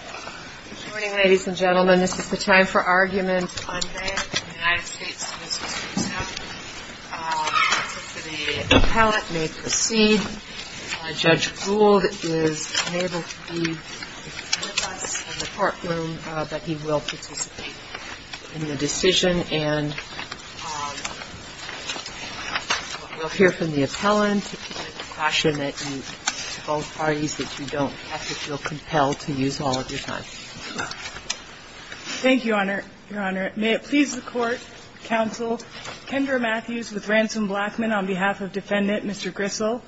Good morning, ladies and gentlemen. This is the time for argument on behalf of the United States Justice Commission. The appellant may proceed. Judge Gould is able to be with us in the courtroom, but he will participate in the decision. And we'll hear from the appellant to keep in the question that you both parties, that you don't have to feel compelled to use all of your time. Thank you, Your Honor. May it please the Court, counsel Kendra Matthews with Ransom Blackman on behalf of Defendant Mr. Grisel.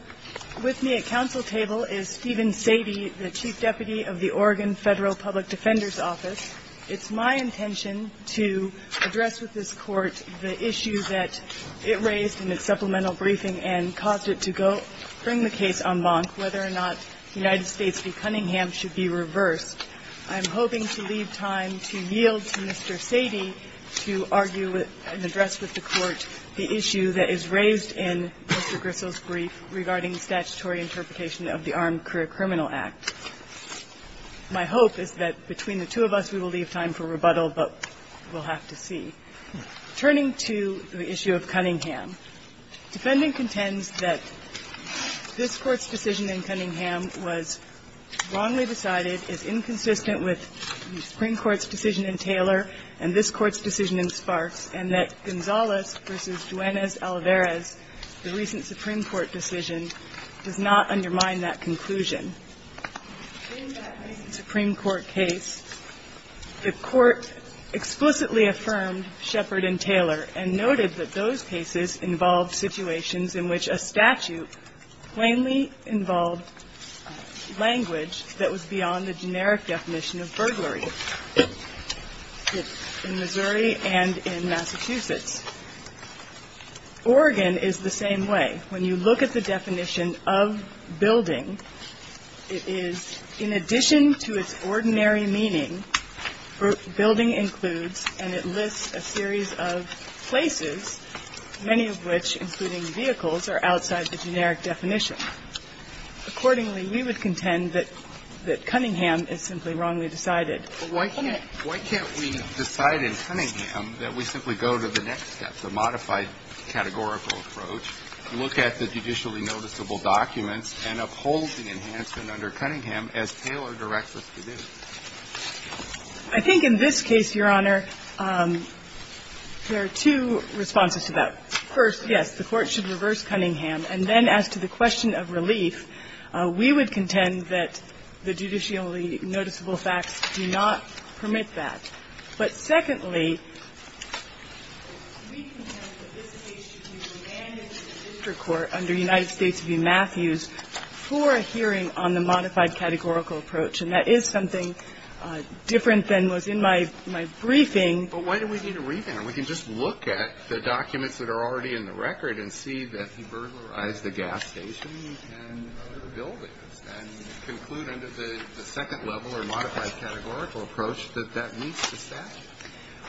With me at counsel table is Stephen Sadie, the Chief Deputy of the Oregon Federal Public Defender's Office. It's my intention to address with this Court the issue that it raised in its supplemental briefing and caused it to go bring the case en banc, whether or not United States v. Cunningham should be reversed. I'm hoping to leave time to yield to Mr. Sadie to argue and address with the Court the issue that is raised in Mr. Grisel's brief regarding the statutory interpretation of the Armed Criminal Act. My hope is that between the two of us, we will leave time for rebuttal, but we'll have to see. Turning to the issue of Cunningham, defendant contends that this Court's decision in Cunningham was wrongly decided, is inconsistent with the Supreme Court's decision in Taylor and this Court's decision in Sparks, and that Gonzalez v. Juanez-Alavarez, the recent Supreme Court decision, does not undermine that conclusion. In that recent Supreme Court case, the Court explicitly affirmed Shepard and Taylor and noted that those cases involved situations in which a statute plainly involved language that was beyond the generic definition of burglary in Missouri and in Massachusetts. Oregon is the same way. When you look at the definition of building, it is, in addition to its ordinary meaning, building includes and it lists a series of places, many of which, including vehicles, are outside the generic definition. Accordingly, we would contend that Cunningham is simply wrongly decided. Kennedy, why can't we decide in Cunningham that we simply go to the next step, the modified categorical approach, look at the judicially noticeable documents and uphold the enhancement under Cunningham as Taylor directs us to do? I think in this case, Your Honor, there are two responses to that. First, yes, the Court should reverse Cunningham. And then as to the question of relief, we would contend that the judicially noticeable facts do not permit that. But secondly, we contend that this case should be remanded to district court under United States v. Matthews for a hearing on the modified categorical approach. And that is something different than was in my briefing. But why do we need a remand? And we can just look at the documents that are already in the record and see that he burglarized the gas station and other buildings and conclude under the second level or modified categorical approach that that meets the statute.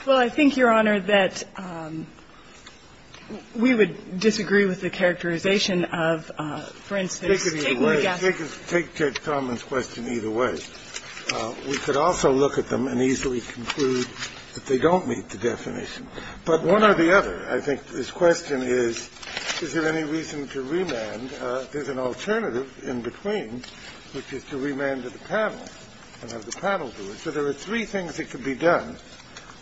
Well, I think, Your Honor, that we would disagree with the characterization of, for instance, taking the gas station. Take Ted Coleman's question either way. We could also look at them and easily conclude that they don't meet the definition. But one or the other, I think this question is, is there any reason to remand? There's an alternative in between, which is to remand to the panel and have the panel do it. So there are three things that could be done.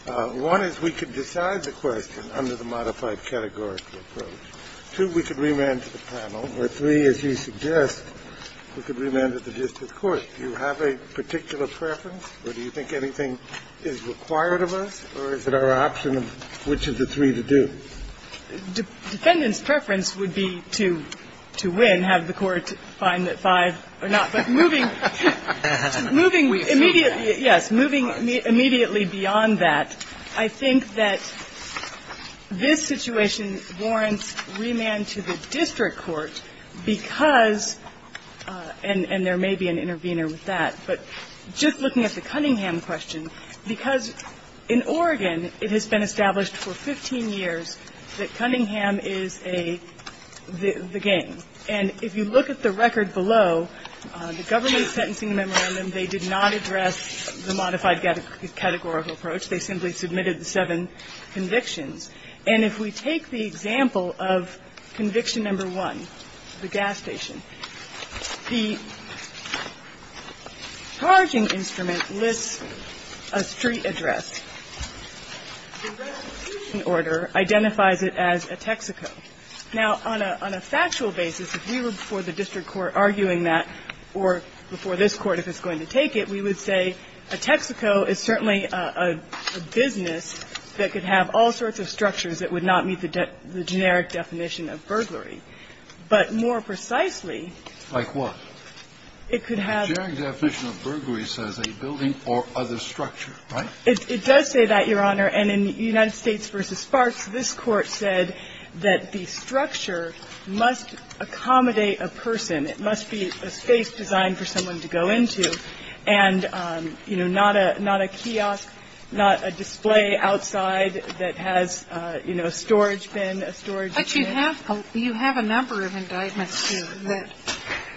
One is we could decide the question under the modified categorical approach. Two, we could remand to the panel. Or three, as you suggest, we could remand to the district court. Do you have a particular preference? Or do you think anything is required of us? Or is it our option of which of the three to do? Defendant's preference would be to win, have the court find that five or not. But moving immediately, yes, moving immediately beyond that, I think that this situation warrants remand to the district court because, and there may be an intervening minor with that, but just looking at the Cunningham question, because in Oregon it has been established for 15 years that Cunningham is a the game. And if you look at the record below, the government sentencing memorandum, they did not address the modified categorical approach. They simply submitted the seven convictions. And if we take the example of conviction number one, the gas station, the charging instrument lists a street address. The restitution order identifies it as a Texaco. Now, on a factual basis, if we were before the district court arguing that, or before this Court if it's going to take it, we would say a Texaco is certainly a business that could have all sorts of structures that would not meet the generic definition of burglary, but more precisely. Like what? It could have. The generic definition of burglary says a building or other structure, right? It does say that, Your Honor. And in United States v. Sparks, this Court said that the structure must accommodate a person. It must be a space designed for someone to go into and, you know, not a kiosk, not a display outside that has, you know, storage bin, a storage kit. But you have a number of indictments here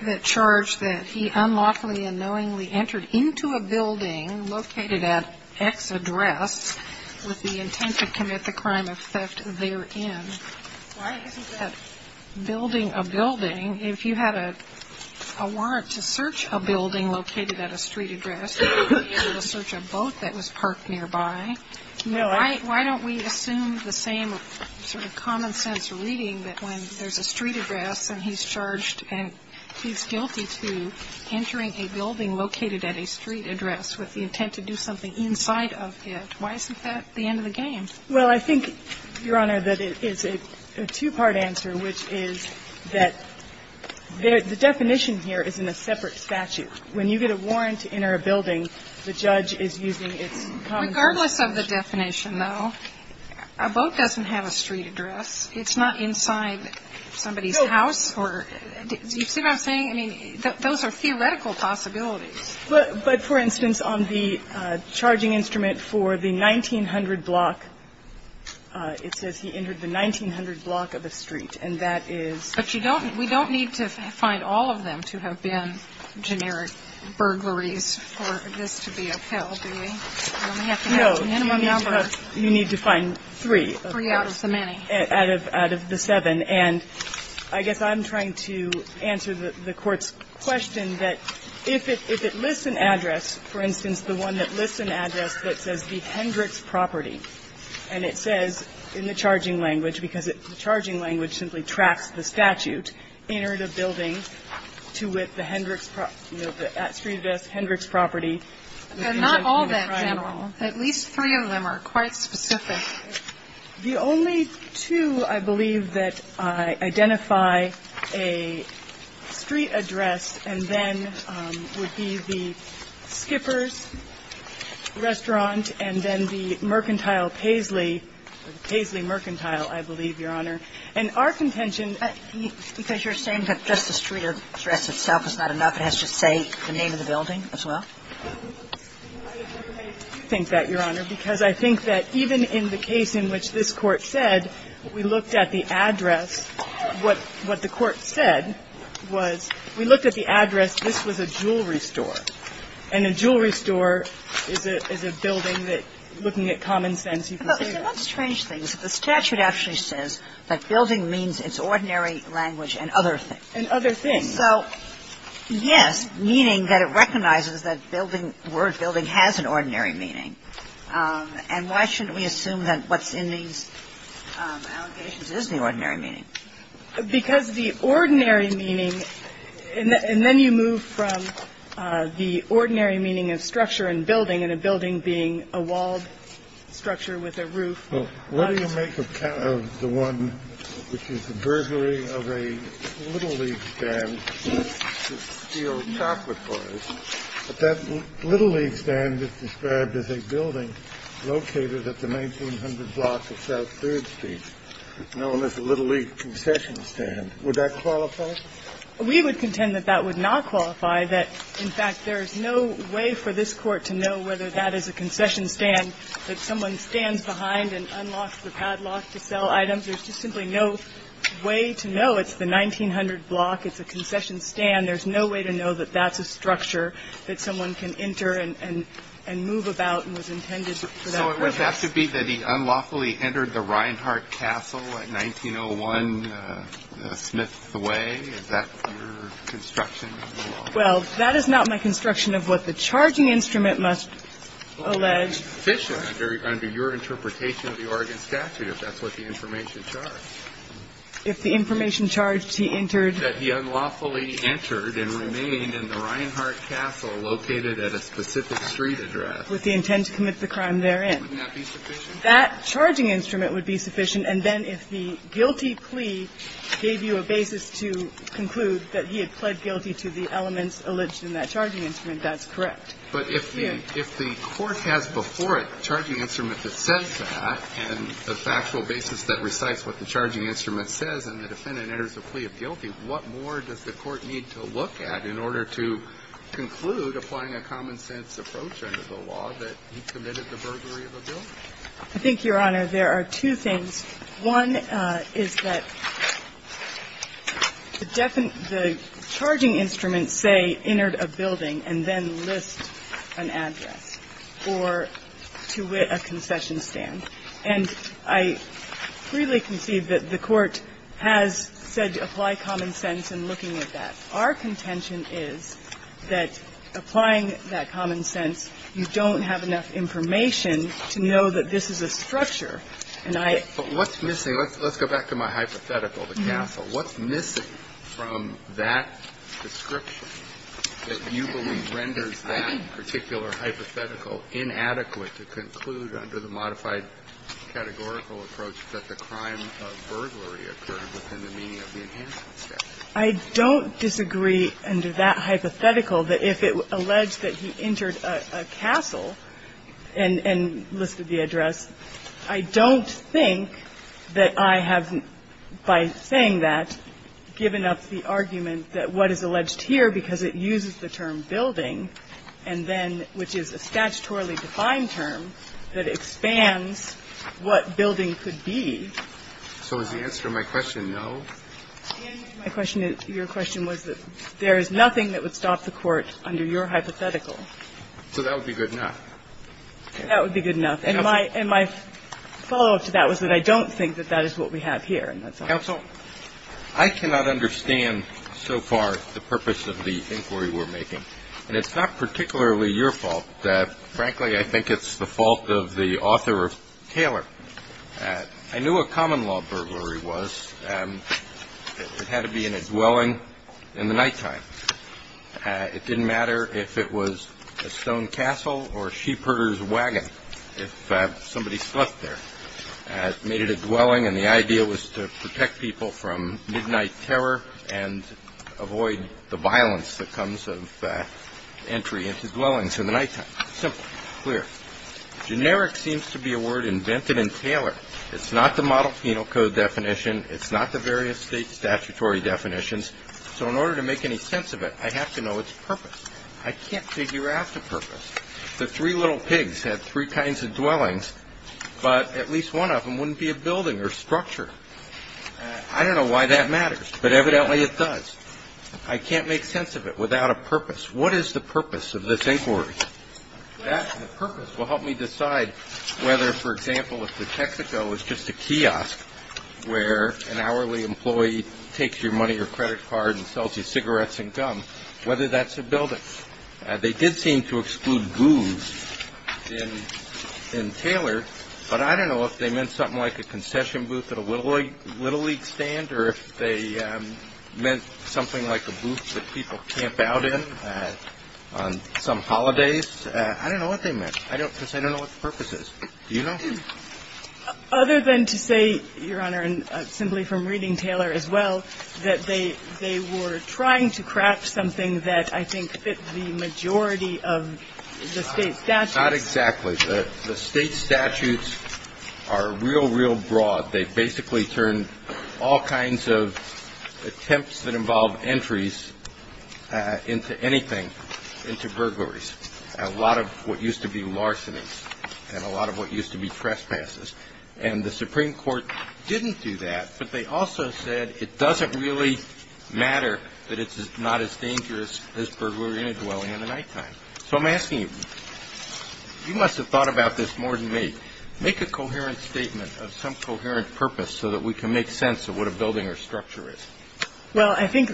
that charge that he unlawfully and knowingly entered into a building located at X address with the intent to commit the crime of theft therein. Why isn't that building a building? If you had a warrant to search a building located at a street address, you couldn't have entered it. There's no warrant to enter a building, but you could enter it nearby. Why don't we assume the same sort of common sense reading that when there's a street address and he's charged and he's guilty to entering a building located at a street address with the intent to do something inside of it, why isn't that the end of the game? Well, I think, Your Honor, that it is a two-part answer, which is that the definition here is in a separate statute. When you get a warrant to enter a building, the judge is using its common sense. Regardless of the definition, though, a boat doesn't have a street address. It's not inside somebody's house. You see what I'm saying? I mean, those are theoretical possibilities. But, for instance, on the charging instrument for the 1900 block, it says he entered the 1900 block of a street, and that is. But you don't we don't need to find all of them to have been generic burglaries for this to be a pill, do we? We only have to have the minimum number. No. You need to find three. Three out of the many. Out of the seven. And I guess I'm trying to answer the Court's question that if it lists an address, for instance, the one that lists an address that says the Hendricks property, and it says in the charging language, because the charging language simply tracks the statute, entered a building to with the Hendricks property, you know, the street address Hendricks property. And not all that general. At least three of them are quite specific. The only two, I believe, that identify a street address and then would be the Skipper's restaurant and then the Mercantile Paisley, Paisley Mercantile, I believe, Your Honor. And our contention. Because you're saying that just the street address itself is not enough. It has to say the name of the building as well? I think that, Your Honor, because I think that even in the case in which this Court said we looked at the address, what the Court said was we looked at the address, this was a jewelry store. And a jewelry store is a building that, looking at common sense, you can say that. But let's change things. The statute actually says that building means it's ordinary language and other things. And other things. So, yes, meaning that it recognizes that word building has an ordinary meaning. And why shouldn't we assume that what's in these allegations is the ordinary meaning? Because the ordinary meaning, and then you move from the ordinary meaning of structure and building and a building being a walled structure with a roof. Well, what do you make of the one which is the burglary of a Little League stand that's a steel chocolate bar? That Little League stand is described as a building located at the 1900 block of South Third Street, known as the Little League concession stand. Would that qualify? We would contend that that would not qualify. That, in fact, there is no way for this Court to know whether that is a concession stand, that someone stands behind and unlocks the padlock to sell items. There's just simply no way to know. It's the 1900 block. It's a concession stand. There's no way to know that that's a structure that someone can enter and move about and was intended for that purpose. So it would have to be that he unlawfully entered the Reinhart Castle at 1901 Smith Way? Is that your construction of the law? It would be sufficient under your interpretation of the Oregon statute if that's what the information charged. If the information charged he entered? That he unlawfully entered and remained in the Reinhart Castle located at a specific street address. With the intent to commit the crime therein. Wouldn't that be sufficient? That charging instrument would be sufficient. And then if the guilty plea gave you a basis to conclude that he had pled guilty to the elements alleged in that charging instrument, that's correct. But if the court has before it a charging instrument that says that, and a factual basis that recites what the charging instrument says, and the defendant enters a plea of guilty, what more does the court need to look at in order to conclude applying a common sense approach under the law that he committed the burglary of a building? I think, Your Honor, there are two things. One is that the charging instrument say entered a building and then lists an address or to a concession stand. And I freely concede that the court has said to apply common sense in looking at that. Our contention is that applying that common sense, you don't have enough information to know that this is a structure. But what's missing, let's go back to my hypothetical, the castle. What's missing from that description that you believe renders that particular hypothetical inadequate to conclude under the modified categorical approach that the crime of burglary occurred within the meaning of the enhancement statute? I don't disagree under that hypothetical that if it alleged that he entered a castle and listed the address, I don't think that I have, by saying that, given up the argument that what is alleged here, because it uses the term building and then, which is a statutorily defined term, that expands what building could be. So is the answer to my question no? The answer to my question, your question, was that there is nothing that would stop the court under your hypothetical. So that would be good enough. That would be good enough. Counsel. And my follow-up to that was that I don't think that that is what we have here, and that's all. Counsel, I cannot understand so far the purpose of the inquiry we're making. And it's not particularly your fault. Frankly, I think it's the fault of the author of Taylor. I knew what common law burglary was. It had to be in a dwelling in the nighttime. It didn't matter if it was a stone castle or a sheepherder's wagon, if somebody slept there. It made it a dwelling, and the idea was to protect people from midnight terror and avoid the violence that comes of entry into dwellings in the nighttime. Simple. Clear. Generic seems to be a word invented in Taylor. It's not the model penal code definition. It's not the various state statutory definitions. So in order to make any sense of it, I have to know its purpose. I can't figure out the purpose. The three little pigs had three kinds of dwellings, but at least one of them wouldn't be a building or structure. I don't know why that matters, but evidently it does. I can't make sense of it without a purpose. What is the purpose of this inquiry? That purpose will help me decide whether, for example, if the Texaco is just a kiosk where an hourly employee takes your money or credit card and sells you cigarettes and gum, whether that's a building. They did seem to exclude booze in Taylor, but I don't know if they meant something like a concession booth at a Little League stand or if they meant something like a booth that people camp out in on some holidays. I don't know what they meant because I don't know what the purpose is. Do you know? Other than to say, Your Honor, and simply from reading Taylor as well, that they were trying to craft something that I think fit the majority of the State statutes. Not exactly. The State statutes are real, real broad. They basically turn all kinds of attempts that involve entries into anything, into burglaries. A lot of what used to be larcenies and a lot of what used to be trespasses. And the Supreme Court didn't do that, but they also said it doesn't really matter that it's not as dangerous as burglary and dwelling in the nighttime. So I'm asking you, you must have thought about this more than me. Make a coherent statement of some coherent purpose so that we can make sense of what a building or structure is. Well, I think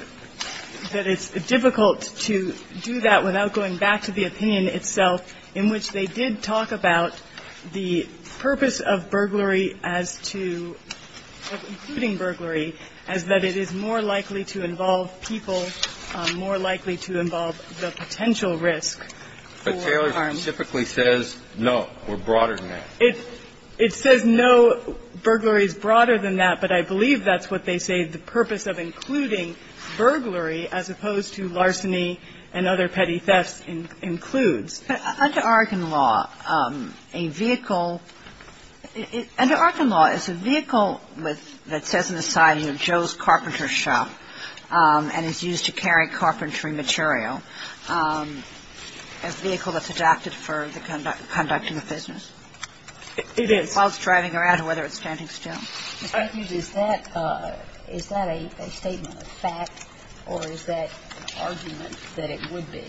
that it's difficult to do that without going back to the opinion itself in which they did talk about the purpose of burglary as to, including burglary, as that it is more likely to involve people, more likely to involve the potential risk for harm. But Taylor specifically says, no, we're broader than that. It says, no, burglary is broader than that, but I believe that's what they say the purpose of including burglary as opposed to larceny and other petty thefts includes. Under Arkin law, a vehicle – under Arkin law, is a vehicle that says on the side, you know, Joe's Carpenter Shop, and is used to carry carpentry material, a vehicle that's adapted for the conducting of business? It is. While it's driving around or whether it's standing still? Is that a statement of fact, or is that an argument that it would be?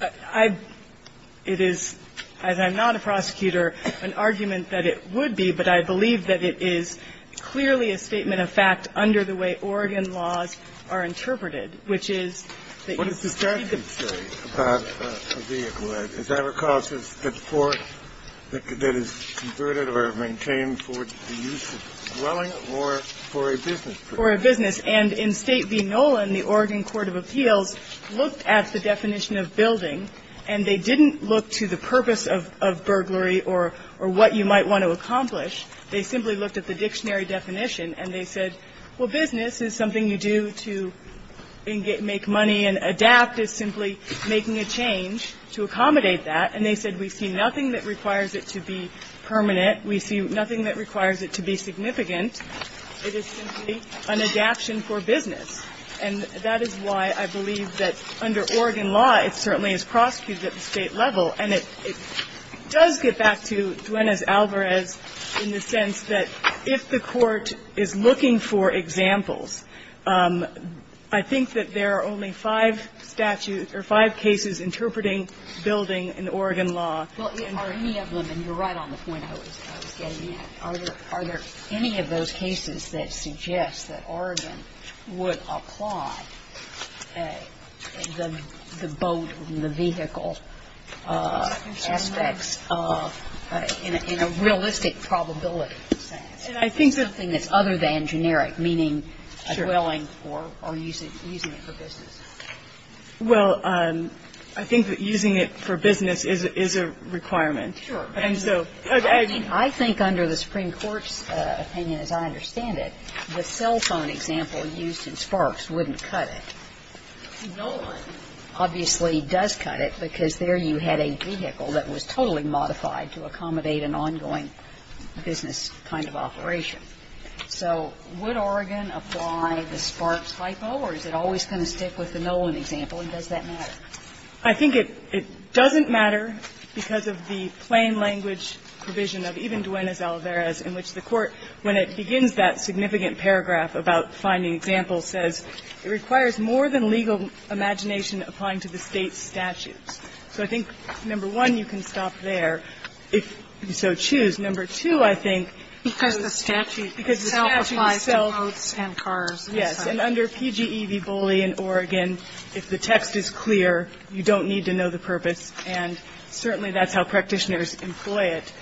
I – it is, as I'm not a prosecutor, an argument that it would be, but I believe that it is clearly a statement of fact under the way Oregon laws are interpreted, which is that you – What does the statute say about a vehicle? Is that a cause that's for – that is converted or maintained for the use of dwelling or for a business purpose? For a business. And in State v. Nolan, the Oregon Court of Appeals looked at the definition of building, and they didn't look to the purpose of burglary or what you might want to accomplish. They simply looked at the dictionary definition, and they said, well, business is something you do to make money and adapt is simply making a change to accommodate that. And they said we see nothing that requires it to be permanent. We see nothing that requires it to be significant. It is simply an adaption for business. And that is why I believe that under Oregon law, it certainly is prosecuted at the State level. And it does get back to Duenez-Alvarez in the sense that if the court is looking for examples, I think that there are only five statutes or five cases interpreting building in Oregon law. Well, are any of them – and you're right on the point I was getting at. Are there any of those cases that suggest that Oregon would apply the boat and the vehicle aspects of – in a realistic probability sense? And I think that – It's something that's other than generic, meaning a dwelling or using it for business. Well, I think that using it for business is a requirement. Sure. I think under the Supreme Court's opinion, as I understand it, the cell phone example used in Sparks wouldn't cut it. No one obviously does cut it because there you had a vehicle that was totally modified to accommodate an ongoing business kind of operation. So would Oregon apply the Sparks hypo, or is it always going to stick with the Nolan example, and does that matter? I think it doesn't matter because of the plain language provision of even Duenez-Alvarez in which the court, when it begins that significant paragraph about finding examples, says it requires more than legal imagination applying to the State's statutes. So I think, number one, you can stop there if you so choose. Number two, I think – Because the statute itself applies to boats and cars. Yes. And under PGE v. Boley in Oregon, if the text is clear, you don't need to know the purpose, and certainly that's how practitioners employ it.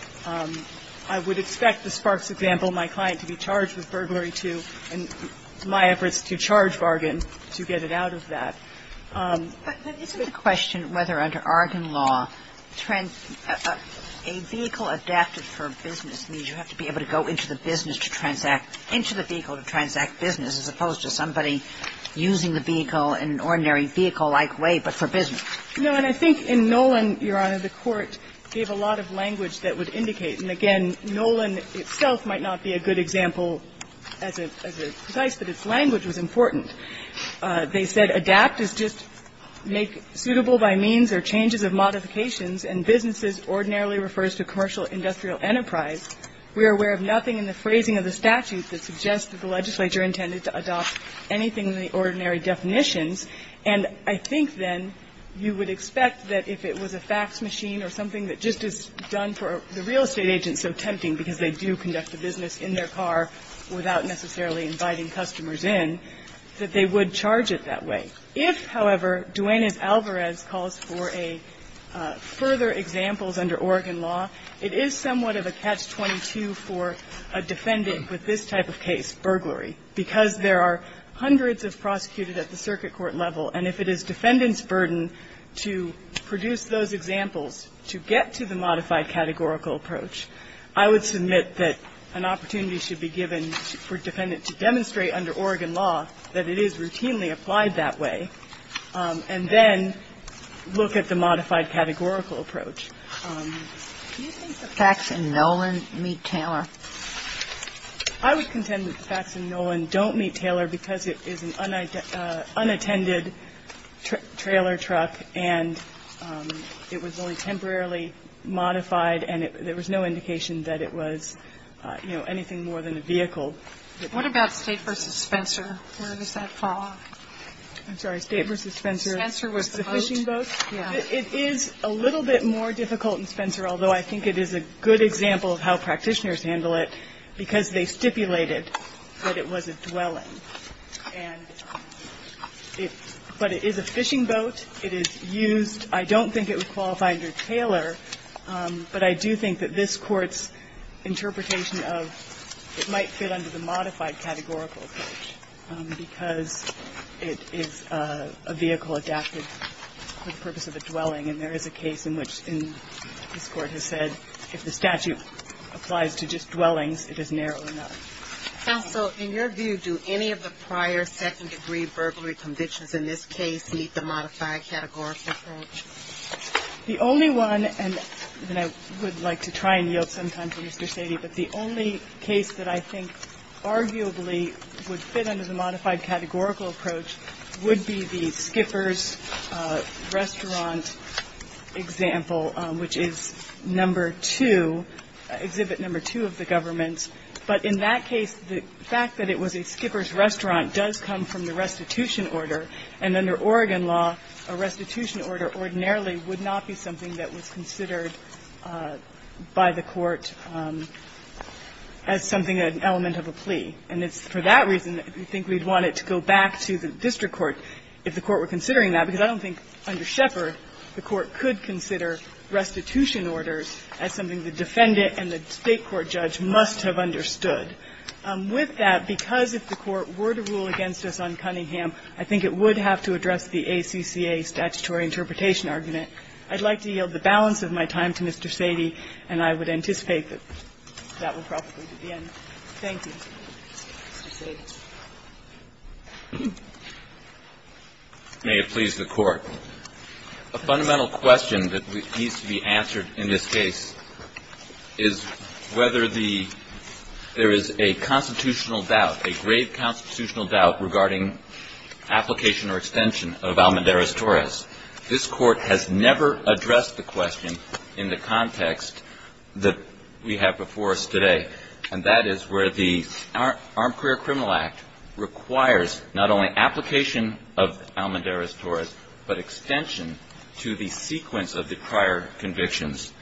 I would expect the Sparks example, my client, to be charged with burglary too, and my efforts to charge bargain to get it out of that. But isn't the question whether under Oregon law, a vehicle adapted for business means you have to be able to go into the business to transact, into the vehicle to transact business, as opposed to somebody using the vehicle in an ordinary vehicle-like way but for business. No, and I think in Nolan, Your Honor, the court gave a lot of language that would indicate, and again, Nolan itself might not be a good example as a device, but its effect is just make suitable by means or changes of modifications, and businesses ordinarily refers to commercial industrial enterprise. We are aware of nothing in the phrasing of the statute that suggests that the legislature intended to adopt anything in the ordinary definitions, and I think then you would expect that if it was a fax machine or something that just is done for the real estate agent, so tempting because they do conduct a business in their car without necessarily inviting customers in, that they would charge it that way. If, however, Duanez-Alvarez calls for a further examples under Oregon law, it is somewhat of a catch-22 for a defendant with this type of case, burglary, because there are hundreds of prosecuted at the circuit court level, and if it is defendant's burden to produce those examples to get to the modified categorical approach, I would submit that an opportunity should be given for a defendant to demonstrate under Oregon law that it is routinely applied that way, and then look at the modified categorical approach. Do you think the fax and Nolan meet Taylor? I would contend that the fax and Nolan don't meet Taylor because it is an unattended trailer truck, and it was only temporarily modified, and there was no indication that it was, you know, anything more than a vehicle. What about State v. Spencer? Where does that fall off? I'm sorry. State v. Spencer. Spencer was the boat. The fishing boat. Yeah. It is a little bit more difficult in Spencer, although I think it is a good example of how practitioners handle it, because they stipulated that it was a dwelling. And it – but it is a fishing boat. It is used. I don't think it would qualify under Taylor, but I do think that this Court's interpretation of it might fit under the modified categorical approach because it is a vehicle adapted for the purpose of a dwelling, and there is a case in which this Court has said if the statute applies to just dwellings, it is narrow enough. Counsel, in your view, do any of the prior second-degree burglary convictions in this case meet the modified categorical approach? The only one, and I would like to try and yield some time to Mr. Sady, but the only case that I think arguably would fit under the modified categorical approach would be the Skipper's Restaurant example, which is number two, exhibit number two of the government's. But in that case, the fact that it was a Skipper's Restaurant does come from the And under Oregon law, a restitution order ordinarily would not be something that was considered by the Court as something, an element of a plea. And it's for that reason that we think we'd want it to go back to the district court if the Court were considering that, because I don't think under Shepard the Court could consider restitution orders as something the defendant and the State Court judge must have understood. With that, because if the Court were to rule against us on Cunningham, I think it would have to address the ACCA statutory interpretation argument. I'd like to yield the balance of my time to Mr. Sady, and I would anticipate that that will probably be the end. Thank you. Mr. Sady. May it please the Court. A fundamental question that needs to be answered in this case is whether there is a constitutional doubt, a grave constitutional doubt regarding application or extension of Almendarez-Torres. This Court has never addressed the question in the context that we have before us today, and that is where the Armed Career Criminal Act requires not only application of Almendarez-Torres, but extension to the sequence of the prior convictions.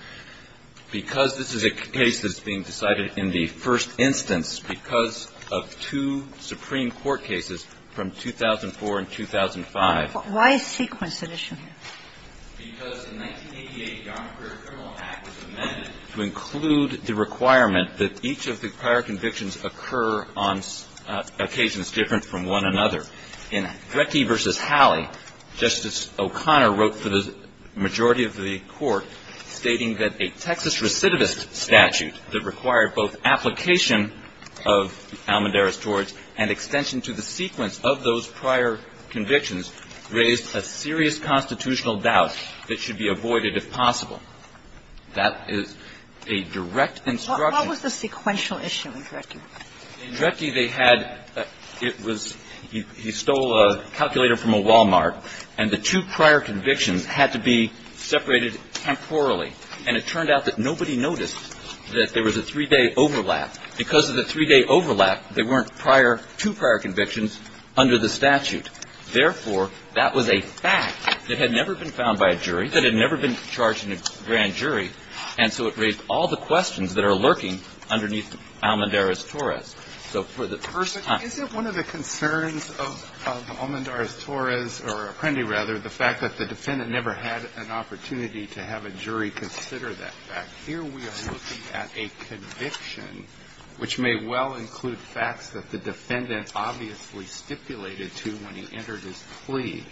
Because this is a case that's being decided in the first instance because of two Supreme Court cases from 2004 and 2005. Why is sequence an issue? Because in 1988, the Armed Career Criminal Act was amended to include the requirement that each of the prior convictions occur on occasions different from one another. In Drecke v. Halley, Justice O'Connor wrote for the majority of the Court stating that a Texas recidivist statute that required both application of Almendarez-Torres and extension to the sequence of those prior convictions raised a serious constitutional doubt that should be avoided if possible. That is a direct instruction. What was the sequential issue in Drecke? In Drecke, they had – it was – he stole a calculator from a Walmart, and the two prior convictions had to be separated temporally. And it turned out that nobody noticed that there was a three-day overlap. Because of the three-day overlap, there weren't prior – two prior convictions under the statute. Therefore, that was a fact that had never been found by a jury, that had never been charged in a grand jury, and so it raised all the questions that are lurking underneath Almendarez-Torres. So for the – First, is it one of the concerns of Almendarez-Torres, or Apprendi rather, the fact that the defendant never had an opportunity to have a jury consider that fact? Here we are looking at a conviction which may well include facts that the defendant obviously stipulated to when he entered his plea.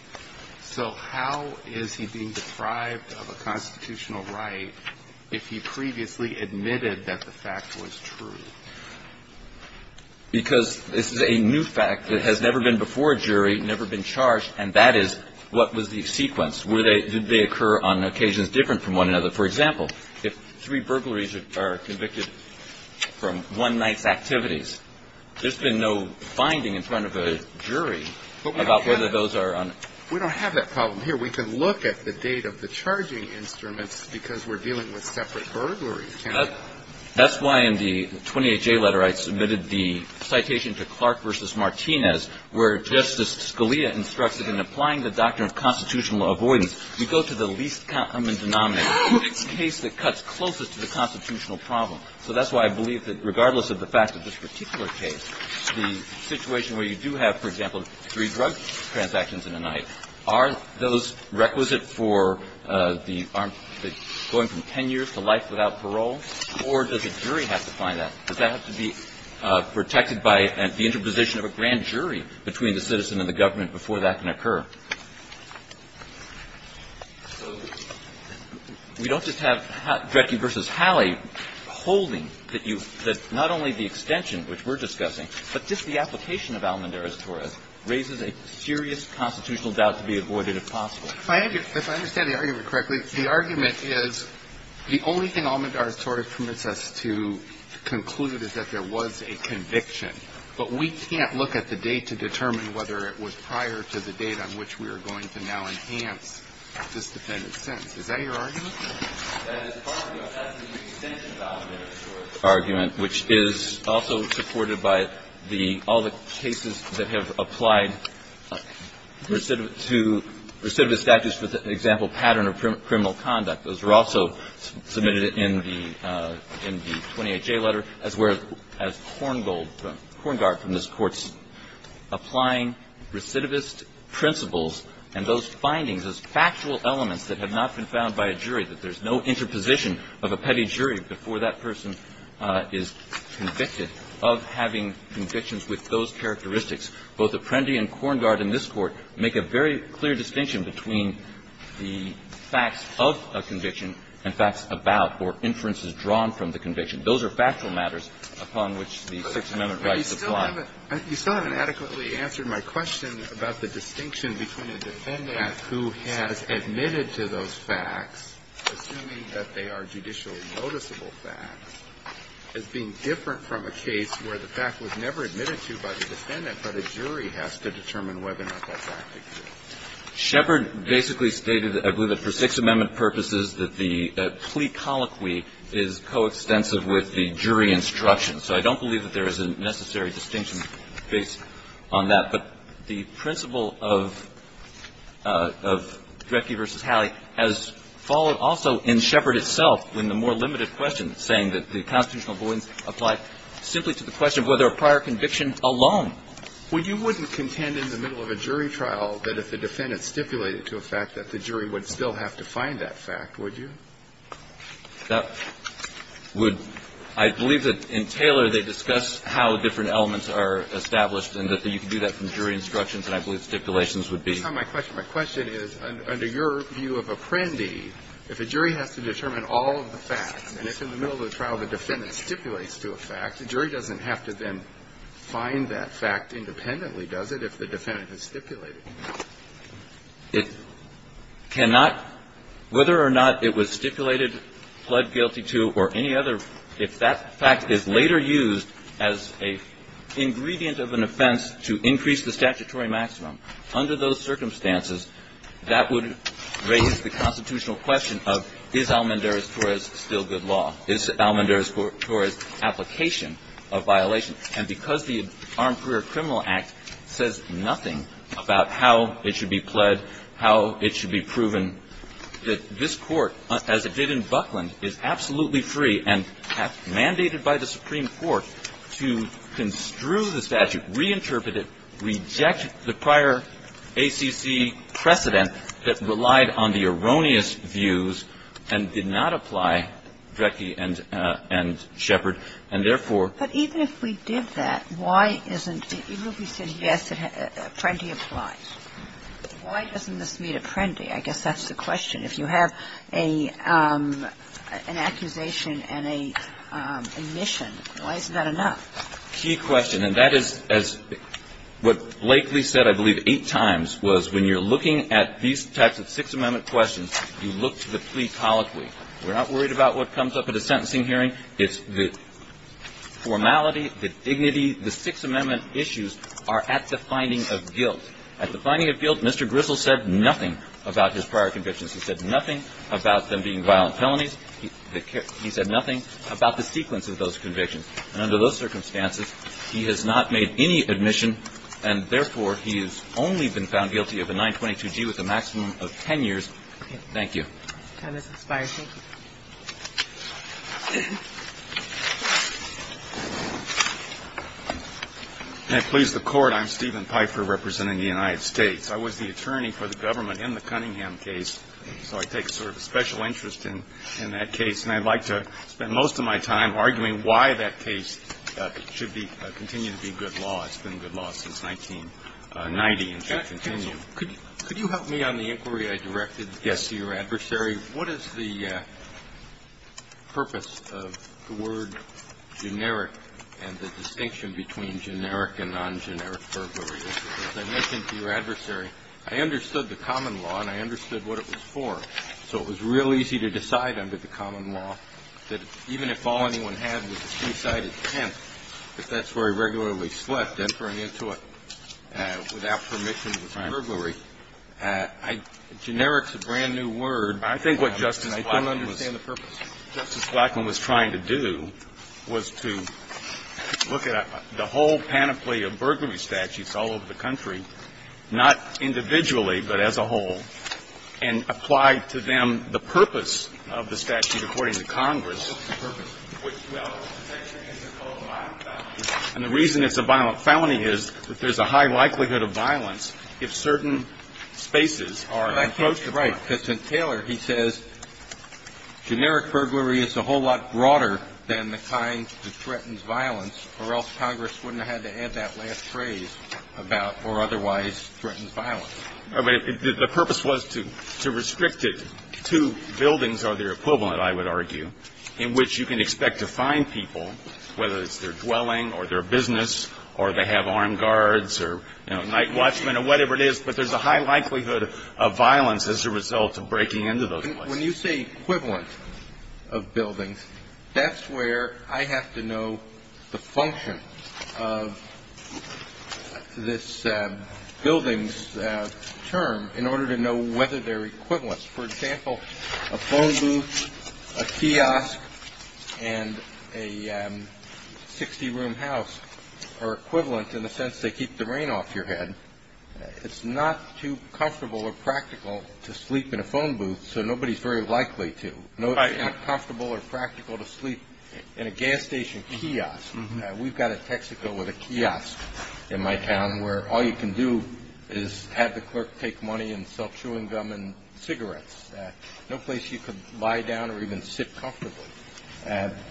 So how is he being deprived of a constitutional right if he previously admitted that the fact was true? Because this is a new fact that has never been before a jury, never been charged, and that is, what was the sequence? Were they – did they occur on occasions different from one another? For example, if three burglaries are convicted from one night's activities, there's been no finding in front of a jury about whether those are on – We don't have that problem here. We can look at the date of the charging instruments because we're dealing with separate burglaries. That's why in the 28J letter I submitted the citation to Clark v. Martinez where Justice Scalia instructs that in applying the doctrine of constitutional avoidance, you go to the least common denominator. It's a case that cuts closest to the constitutional problem. So that's why I believe that regardless of the fact of this particular case, the situation where you do have, for example, three drug transactions in a night, are those requisite for the armed – going from 10 years to life without parole, or does a jury have to find that? Does that have to be protected by the interposition of a grand jury between the citizen and the government before that can occur? So we don't just have Drecke v. Halley holding that you – that not only the extension, which we're discussing, but just the application of Almendarez-Torres raises a serious constitutional doubt to be avoided if possible. If I understand the argument correctly, the argument is the only thing Almendarez-Torres permits us to conclude is that there was a conviction. But we can't look at the date to determine whether it was prior to the date on which we are going to now enhance this defendant's sentence. Is that your argument? That is part of the extension of the Almendarez-Torres argument, which is also supported by the – all the cases that have applied recidivist – to recidivist statutes, for example, pattern of criminal conduct. Those were also submitted in the – in the 28J letter, as were – as Korngold – Korngaard from this Court's applying recidivist principles and those findings, those factual elements that have not been found by a jury, that there's no interposition of a petty jury before that person is convicted of having convictions with those characteristics. Both Apprendi and Korngaard in this Court make a very clear distinction between the facts of a conviction and facts about or inferences drawn from the conviction. Those are factual matters upon which the Sixth Amendment rights apply. Alito, you still haven't adequately answered my question about the distinction between a defendant who has admitted to those facts, assuming that they are judicially noticeable facts, as being different from a case where the fact was never admitted to by the defendant, but a jury has to determine whether or not that fact exists. Sheppard basically stated, for Sixth Amendment purposes, that the plea colloquy is coextensive with the jury instruction. So I don't believe that there is a necessary distinction based on that. But the principle of Drecke v. Halley has followed also in Sheppard itself in the more limited question, saying that the constitutional avoidance applied simply to the question of whether a prior conviction alone. Well, you wouldn't contend in the middle of a jury trial that if the defendant stipulated to a fact that the jury would still have to find that fact, would you? That would – I believe that in Taylor they discuss how different elements are established and that you can do that from jury instructions, and I believe stipulations would be. My question is, under your view of Apprendi, if a jury has to determine all of the facts, and if in the middle of the trial the defendant stipulates to a fact, the jury doesn't have to then find that fact independently, does it, if the defendant has stipulated? It cannot – whether or not it was stipulated, pled guilty to, or any other – if that fact is later used as an ingredient of an offense to increase the statutory maximum, under those circumstances, that would raise the constitutional question of, is Almendarez-Torres still good law? Is Almendarez-Torres' application a violation? And because the Armed Career Criminal Act says nothing about how it should be pled, how it should be proven, that this Court, as it did in Buckland, is absolutely free and mandated by the Supreme Court to construe the statute, reinterpret it, reject the prior ACC precedent that relied on the erroneous views and did not apply Drecke and Shepard, and therefore – But even if we did that, why isn't – even if we said, yes, Apprendi applies, why doesn't this meet Apprendi? I guess that's the question. If you have an accusation and a mission, why isn't that enough? Key question. And that is, as what Blakely said, I believe, eight times, was when you're looking at these types of Sixth Amendment questions, you look to the plea colloquy. We're not worried about what comes up at a sentencing hearing. It's the formality, the dignity, the Sixth Amendment issues are at the finding of guilt. At the finding of guilt, Mr. Grizzle said nothing about his prior convictions. He said nothing about them being violent felonies. He said nothing about the sequence of those convictions. And under those circumstances, he has not made any admission, and therefore, he has only been found guilty of a 922G with a maximum of 10 years. Thank you. Can I please the Court? I'm Stephen Pfeiffer representing the United States. I was the attorney for the government in the Cunningham case, so I take sort of a special interest in that case. And I'd like to spend most of my time arguing why that case should be, continue to be good law. It's been good law since 1990 and should continue. Counsel, could you help me on the inquiry I directed to your adversary? Yes. What is the purpose of the word generic and the distinction between generic and non-generic burglary? As I mentioned to your adversary, I understood the common law and I understood what it was for. So it was real easy to decide under the common law that even if all anyone had was a two-sided tent, if that's where he regularly slept, entering into it without permission was burglary. Right. Generic is a brand-new word. I think what Justice Blackman was trying to do was to look at the whole panoply of burglary statutes all over the country, not individually but as a whole, and apply to them the purpose of the statute according to Congress. And the reason it's a violent felony is that there's a high likelihood of violence if certain spaces are encroached upon. Right. Because in Taylor, he says generic burglary is a whole lot broader than the kind that threatens violence or else Congress wouldn't have had to add that last phrase about or otherwise threatens violence. The purpose was to restrict it to buildings or their equivalent, I would argue, in which you can expect to find people, whether it's their dwelling or their business or they have armed guards or night watchmen or whatever it is, but there's a high likelihood of violence as a result of breaking into those places. When you say equivalent of buildings, that's where I have to know the function of this building's term in order to know whether they're equivalent. For example, a phone booth, a kiosk, and a 60-room house are equivalent in the sense they keep the rain off your head. It's not too comfortable or practical to sleep in a phone booth, so nobody's very likely to. It's not comfortable or practical to sleep in a gas station kiosk. We've got a Texaco with a kiosk in my town where all you can do is have the clerk take money and sell chewing gum and cigarettes. No place you can lie down or even sit comfortably.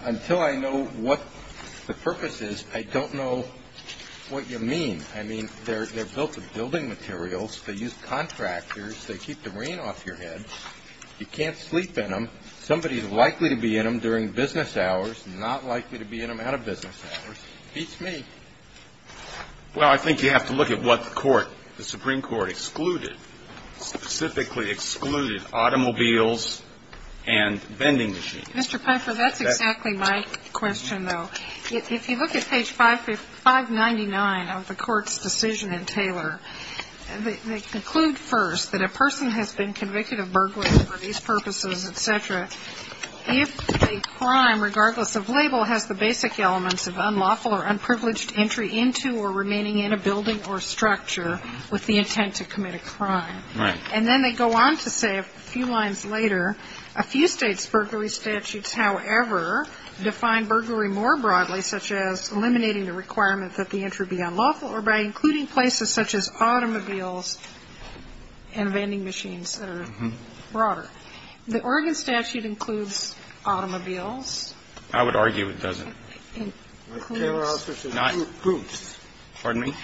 Until I know what the purpose is, I don't know what you mean. I mean, they're built of building materials. They use contractors. They keep the rain off your head. You can't sleep in them. Somebody's likely to be in them during business hours, not likely to be in them out of business hours. Beats me. Well, I think you have to look at what the Supreme Court excluded, specifically excluded automobiles and vending machines. Mr. Pfeiffer, that's exactly my question, though. If you look at page 599 of the court's decision in Taylor, they conclude first that a person has been convicted of burglary for these purposes, et cetera, if a crime, regardless of label, has the basic elements of unlawful or unprivileged entry into or remaining in a building or structure with the intent to commit a crime. Right. And then they go on to say a few lines later, a few states' burglary statutes, however, define burglary more broadly, such as eliminating the requirement that the entry be unlawful or by including places such as automobiles and vending machines that are broader. The Oregon statute includes automobiles. I would argue it doesn't. It includes groups. Pardon me?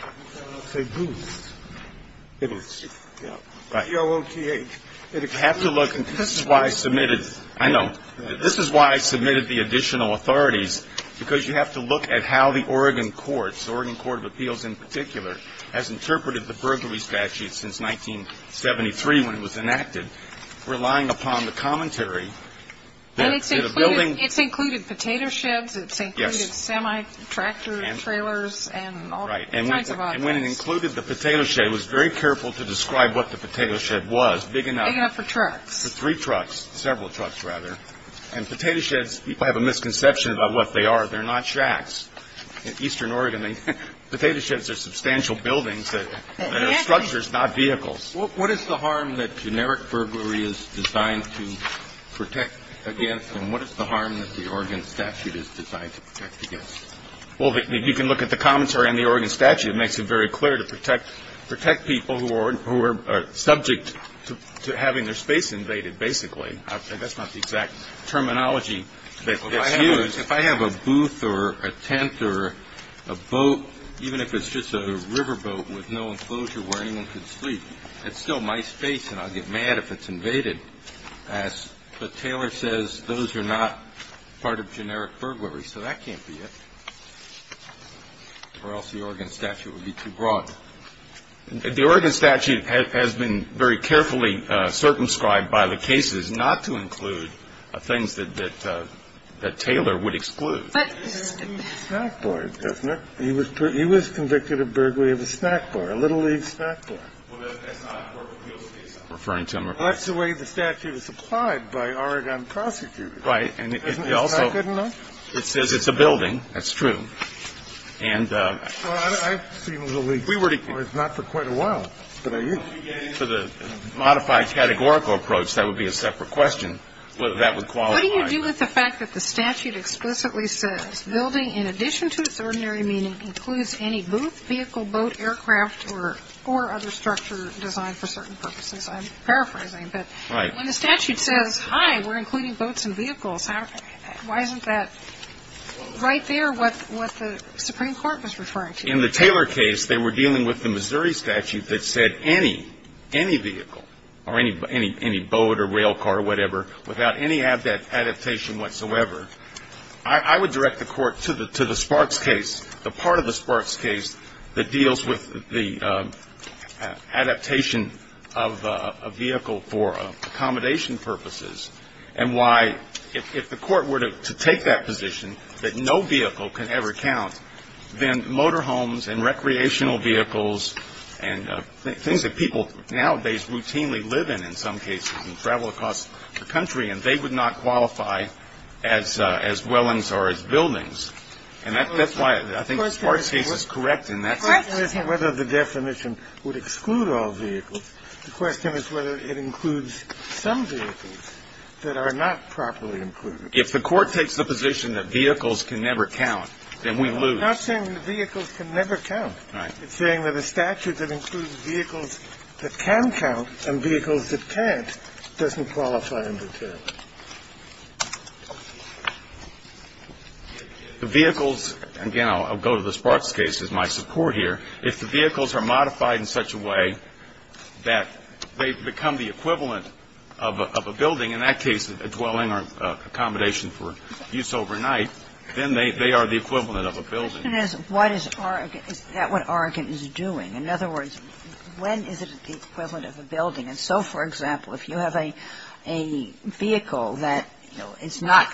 Say groups. Groups. Right. G-O-O-T-H. You have to look. This is why I submitted. I submitted the additional authorities, because you have to look at how the Oregon courts, Oregon Court of Appeals in particular, has interpreted the burglary statute since 1973 when it was enacted, relying upon the commentary that a building ---- And it's included potato sheds. Yes. It's included semi-tractor trailers and all kinds of objects. Right. And when it included the potato shed, it was very careful to describe what the potato shed was, big enough. Big enough for trucks. For three trucks, several trucks, rather. And potato sheds, people have a misconception about what they are. They're not shacks. In eastern Oregon, potato sheds are substantial buildings. They're structures, not vehicles. What is the harm that generic burglary is designed to protect against, and what is the harm that the Oregon statute is designed to protect against? Well, you can look at the commentary on the Oregon statute. It makes it very clear to protect people who are subject to having their space invaded, basically. That's not the exact terminology that's used. If I have a booth or a tent or a boat, even if it's just a riverboat with no enclosure where anyone can sleep, it's still my space and I'll get mad if it's invaded. But Taylor says those are not part of generic burglary, so that can't be it. Or else the Oregon statute would be too broad. The Oregon statute has been very carefully circumscribed by the cases not to include things that Taylor would exclude. He was convicted of burglary of a snack bar, a Little League snack bar. Well, that's not a burglary. That's the way the statute is applied by Oregon prosecutors. Right. Isn't that good enough? It says it's a building. That's true. Well, I've seen Little League bars not for quite a while, but I used to. For the modified categorical approach, that would be a separate question, whether that would qualify. What do you do with the fact that the statute explicitly says building, in addition to its ordinary meaning, includes any booth, vehicle, boat, aircraft, or other structure designed for certain purposes? I'm paraphrasing. But when the statute says, hi, we're including boats and vehicles, why isn't that right there with what the Supreme Court was referring to? In the Taylor case, they were dealing with the Missouri statute that said any, any vehicle, or any boat or rail car or whatever, without any adaptation whatsoever. I would direct the Court to the Sparks case, the part of the Sparks case that deals with the adaptation of a vehicle for accommodation purposes, and why, if the Court were to take that position, that no vehicle can ever count, then motor homes and recreational vehicles and things that people nowadays routinely live in, in some cases, and travel across the country, and they would not qualify as wellings or as buildings. And that's why I think the Sparks case is correct in that sense. The question isn't whether the definition would exclude all vehicles. The question is whether it includes some vehicles that are not properly included. If the Court takes the position that vehicles can never count, then we lose. I'm not saying that vehicles can never count. Right. It's saying that a statute that includes vehicles that can count and vehicles that can't doesn't qualify under Taylor. The vehicles, again, I'll go to the Sparks case as my support here. If the vehicles are modified in such a way that they become the equivalent of a building, in that case a dwelling or accommodation for use overnight, then they are the equivalent of a building. The question is what is Oregon, is that what Oregon is doing? In other words, when is it the equivalent of a building? And so, for example, if you have a vehicle that, you know, it's not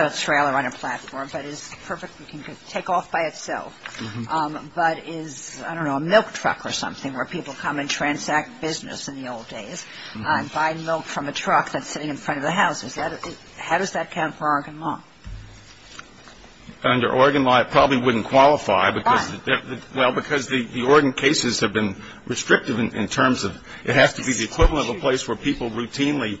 a trailer on a platform, but it's perfect, you can take off by itself, but is, I don't know, a milk truck or something where people come and transact business in the old days and buy milk from a truck that's sitting in front of the house, how does that count for Oregon law? Under Oregon law, it probably wouldn't qualify. Why? Well, because the Oregon cases have been restrictive in terms of it has to be the equivalent of a place where people routinely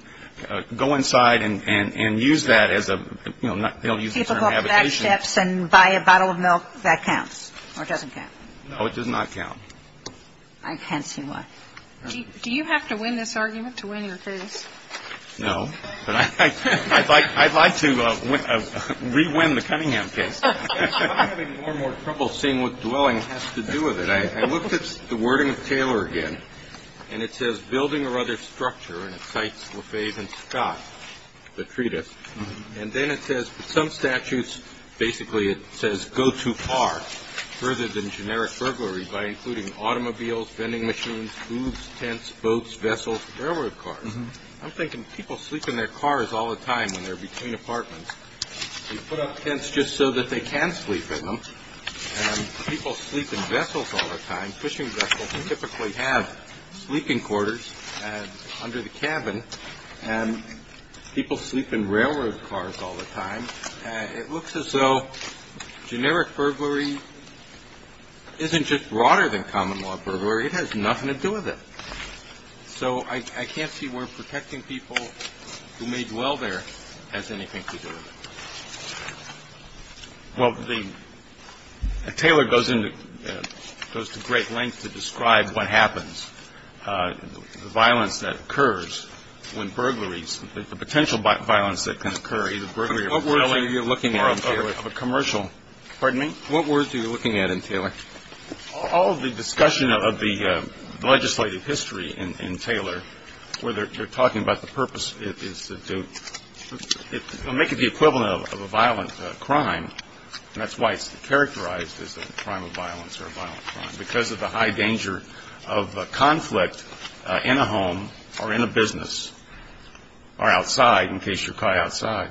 go inside and use that as a, you know, they'll use the term habitation. People go up the back steps and buy a bottle of milk, that counts or doesn't count? No, it does not count. I can't see why. Do you have to win this argument to win your case? No. But I'd like to re-win the Cunningham case. I'm having more and more trouble seeing what dwelling has to do with it. I looked at the wording of Taylor again, and it says building or other structure, and it cites LaFave and Scott, the treatise. And then it says some statutes, basically it says go too far, further than generic burglary by including automobiles, vending machines, hooves, tents, boats, vessels, railroad cars. I'm thinking people sleep in their cars all the time when they're between apartments. They put up tents just so that they can sleep in them, and people sleep in vessels all the time. Fishing vessels typically have sleeping quarters under the cabin, and people sleep in railroad cars all the time. It looks as though generic burglary isn't just broader than common law burglary. It has nothing to do with it. So I can't see where protecting people who may dwell there has anything to do with it. Well, the – Taylor goes into – goes to great lengths to describe what happens, the violence that occurs when burglaries, the potential violence that can occur, either burglary of a building or of a commercial. Pardon me? What words are you looking at in Taylor? All of the discussion of the legislative history in Taylor, where they're talking about the purpose is to make it the equivalent of a violent crime, and that's why it's characterized as a crime of violence or a violent crime, because of the high danger of conflict in a home or in a business or outside in case you're caught outside.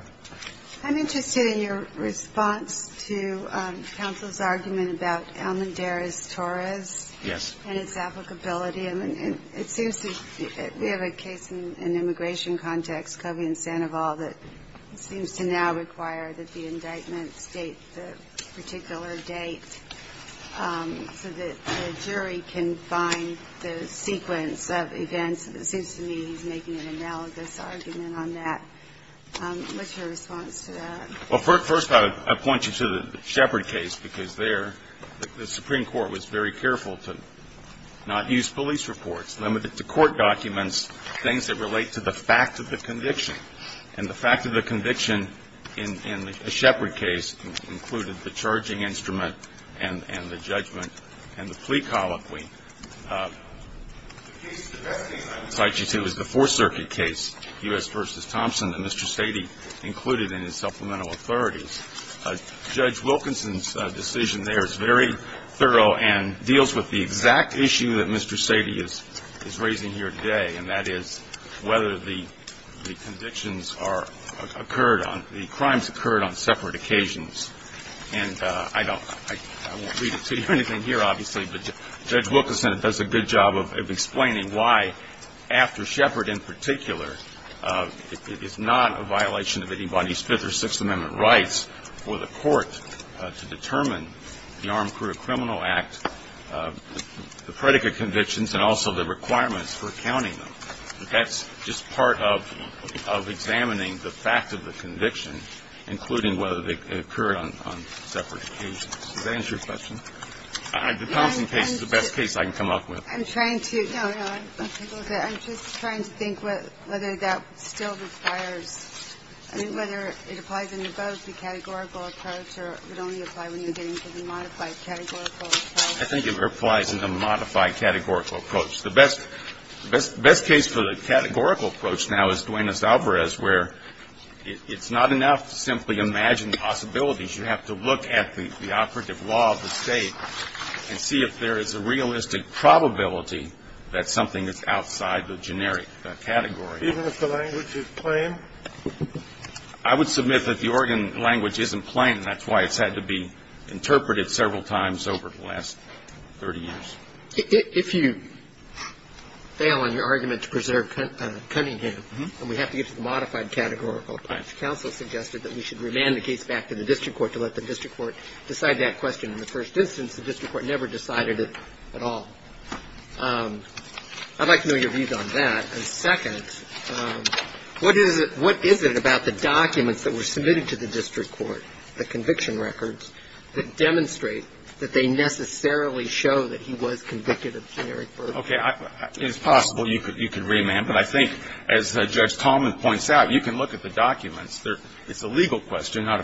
I'm interested in your response to counsel's argument about Almendarez-Torres. Yes. And its applicability. It seems to – we have a case in immigration context, Kobe and Sandoval, that seems to now require that the indictment state the particular date so that the jury can find the sequence of events. It seems to me he's making an analogous argument on that. What's your response to that? Well, first I would point you to the Shepard case, because there the Supreme Court was very careful to not use police reports, limit it to court documents, things that relate to the fact of the conviction. And the fact of the conviction in the Shepard case included the charging instrument and the judgment and the plea colloquy. The case that I'm going to cite you to is the Fourth Circuit case, U.S. v. Thompson, that Mr. Sady included in his supplemental authorities. Judge Wilkinson's decision there is very thorough and deals with the exact issue that Mr. Sady is raising here today, and that is whether the convictions are – occurred on – the crimes occurred on separate occasions. And I don't – I won't read it to you or anything here, obviously, but Judge Wilkinson does a good job of explaining why, after Shepard in particular, it is not a violation of anybody's Fifth or Sixth Amendment rights for the court to determine the Armed Criminal Act, the predicate convictions, and also the requirements for accounting them. That's just part of examining the fact of the conviction, including whether they occurred on separate occasions. Does that answer your question? The Thompson case is the best case I can come up with. I'm trying to – No, no. I'm just trying to think whether that still requires – I mean, whether it applies in both the categorical approach or it would only apply when you're getting to the modified categorical approach. I think it applies in the modified categorical approach. The best case for the categorical approach now is Duenas-Alvarez, where it's not enough to simply imagine the possibilities. You have to look at the operative law of the State and see if there is a realistic probability that something is outside the generic category. Even if the language is plain? I would submit that the Oregon language isn't plain, and that's why it's had to be interpreted several times over the last 30 years. If you fail on your argument to preserve Cunningham and we have to get to the modified categorical approach, the district court never decided it at all. I'd like to know your views on that. And second, what is it about the documents that were submitted to the district court, the conviction records, that demonstrate that they necessarily show that he was convicted of generic burglary? Okay. It is possible you could remand, but I think, as Judge Coleman points out, you can look at the documents and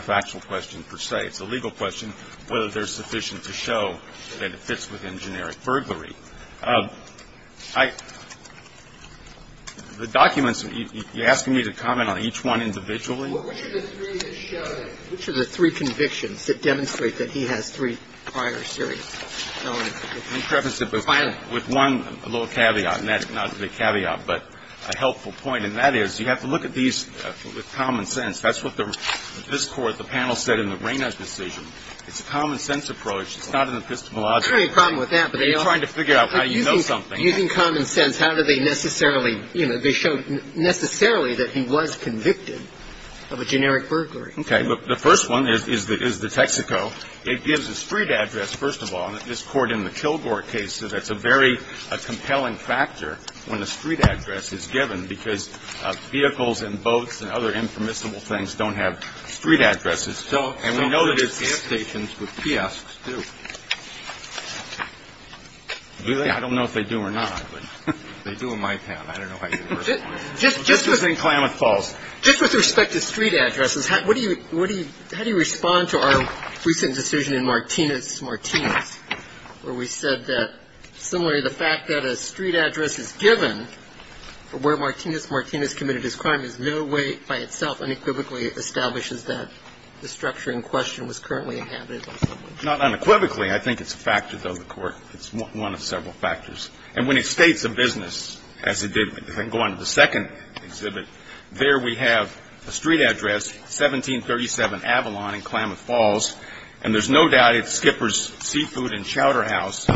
see whether they are sufficient to show that it fits within generic burglary. It's a legal question, not a factual question per se. It's a legal question whether they're sufficient to show that it fits within generic burglary. The documents, you're asking me to comment on each one individually? Well, which are the three that show that, which are the three convictions that demonstrate that he has three prior serious felonies? Let me preface it with one little caveat, and that's not a big caveat, but a helpful point, and that is you have to look at these with common sense. That's what this Court, the panel, said in the Reyna's decision. It's a common sense approach. It's not an epistemological approach. I don't have any problem with that. But you're trying to figure out how you know something. Using common sense, how do they necessarily, you know, they show necessarily that he was convicted of a generic burglary. Okay. The first one is the Texaco. It gives a street address, first of all, in this Court in the Kilgore case, so that's a very compelling factor when a street address is given, because vehicles and boats and other impermissible things don't have street addresses. And we know that it's the stations with kiosks, too. Do they? I don't know if they do or not. They do in my town. I don't know how you know. This is in Klamath Falls. Just with respect to street addresses, how do you respond to our recent decision in Martinez-Martinez, where we said that similarly the fact that a street address is given where Martinez-Martinez committed his crime is no way by itself unequivocally establishes that the structure in question was currently inhabited. Not unequivocally. I think it's a factor, though, in the Court. It's one of several factors. And when it states a business, as it did, if I can go on to the second exhibit, there we have a street address, 1737 Avalon in Klamath Falls. And there's no doubt it's Skipper's Seafood and Chowder House.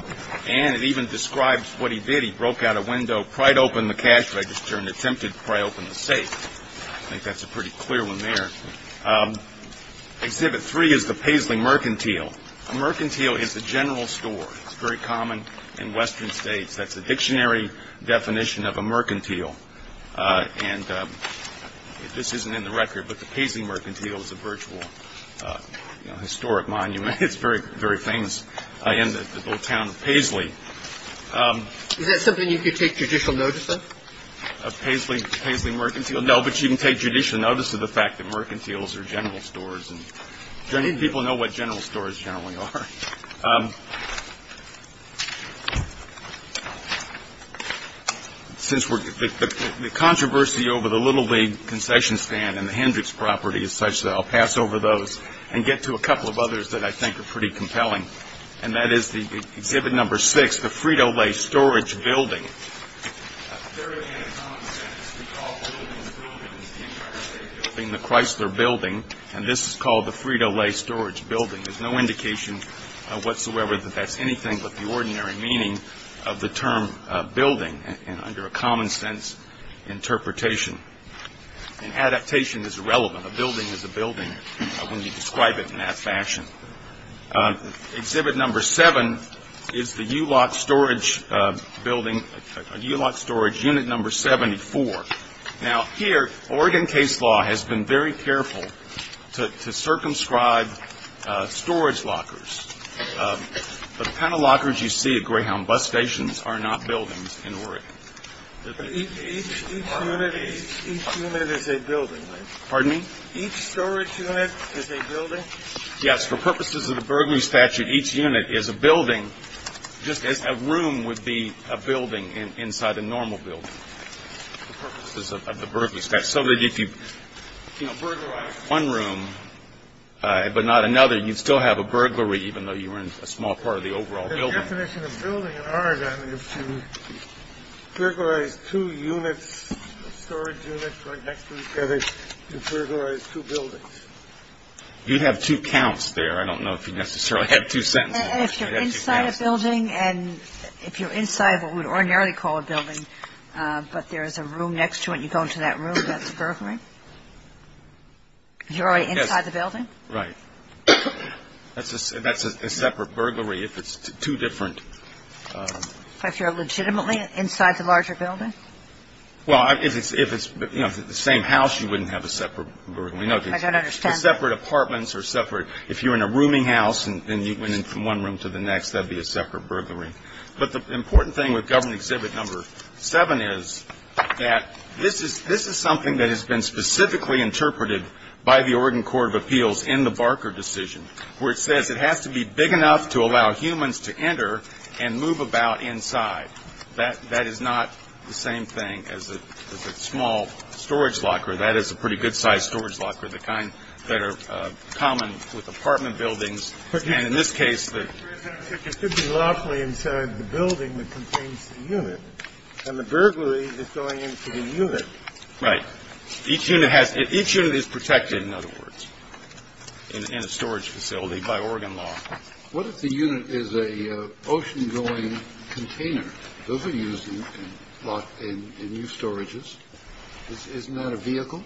And it even describes what he did. He broke out a window, pried open the cash register, and attempted to pry open the safe. I think that's a pretty clear one there. Exhibit three is the Paisley Mercantile. A mercantile is a general store. It's very common in western states. That's the dictionary definition of a mercantile. And this isn't in the record, but the Paisley Mercantile is a virtual historic monument. It's very famous in the little town of Paisley. Is that something you could take judicial notice of? Paisley Mercantile? No, but you can take judicial notice of the fact that mercantiles are general stores. Do any people know what general stores generally are? Since the controversy over the Little League concession stand and the Hendricks property is such, I'll pass over those and get to a couple of others that I think are pretty compelling. And that is exhibit number six, the Frito-Lay Storage Building. Very common sense. We call buildings buildings. The entire state building, the Chrysler Building. And this is called the Frito-Lay Storage Building. There's no indication whatsoever that that's anything but the ordinary meaning of the term building under a common sense interpretation. And adaptation is irrelevant. A building is a building when you describe it in that fashion. Exhibit number seven is the U-Lock Storage Building, U-Lock Storage Unit number 74. Now, here, Oregon case law has been very careful to circumscribe storage lockers. The kind of lockers you see at Greyhound bus stations are not buildings in Oregon. Each unit is a building, right? Pardon me? Each storage unit is a building? Yes. For purposes of the burglary statute, each unit is a building just as a room would be a building inside a normal building. For purposes of the burglary statute, so that if you, you know, burglarize one room but not another, you'd still have a burglary even though you were in a small part of the overall building. The definition of building in Oregon is to burglarize two units, storage units right next to each other. You'd burglarize two buildings. You'd have two counts there. I don't know if you necessarily have two sentences. If you're inside a building and if you're inside what we would ordinarily call a building but there is a room next to it and you go into that room, that's a burglary? You're already inside the building? Right. That's a separate burglary if it's two different. If you're legitimately inside the larger building? Well, if it's, you know, the same house, you wouldn't have a separate burglary. I don't understand. Separate apartments are separate. If you're in a rooming house and you went in from one room to the next, that would be a separate burglary. But the important thing with Government Exhibit Number 7 is that this is something that has been specifically interpreted by the Oregon Court of Appeals in the Barker decision where it says it has to be big enough to allow humans to enter and move about inside. That is not the same thing as a small storage locker. That is a pretty good-sized storage locker, the kind that are common with apartment buildings. And in this case, it could be lawfully inside the building that contains the unit and the burglary is going into the unit. Right. Each unit is protected, in other words, in a storage facility by Oregon law. What if the unit is an ocean-going container? Those are used in new storages. Isn't that a vehicle?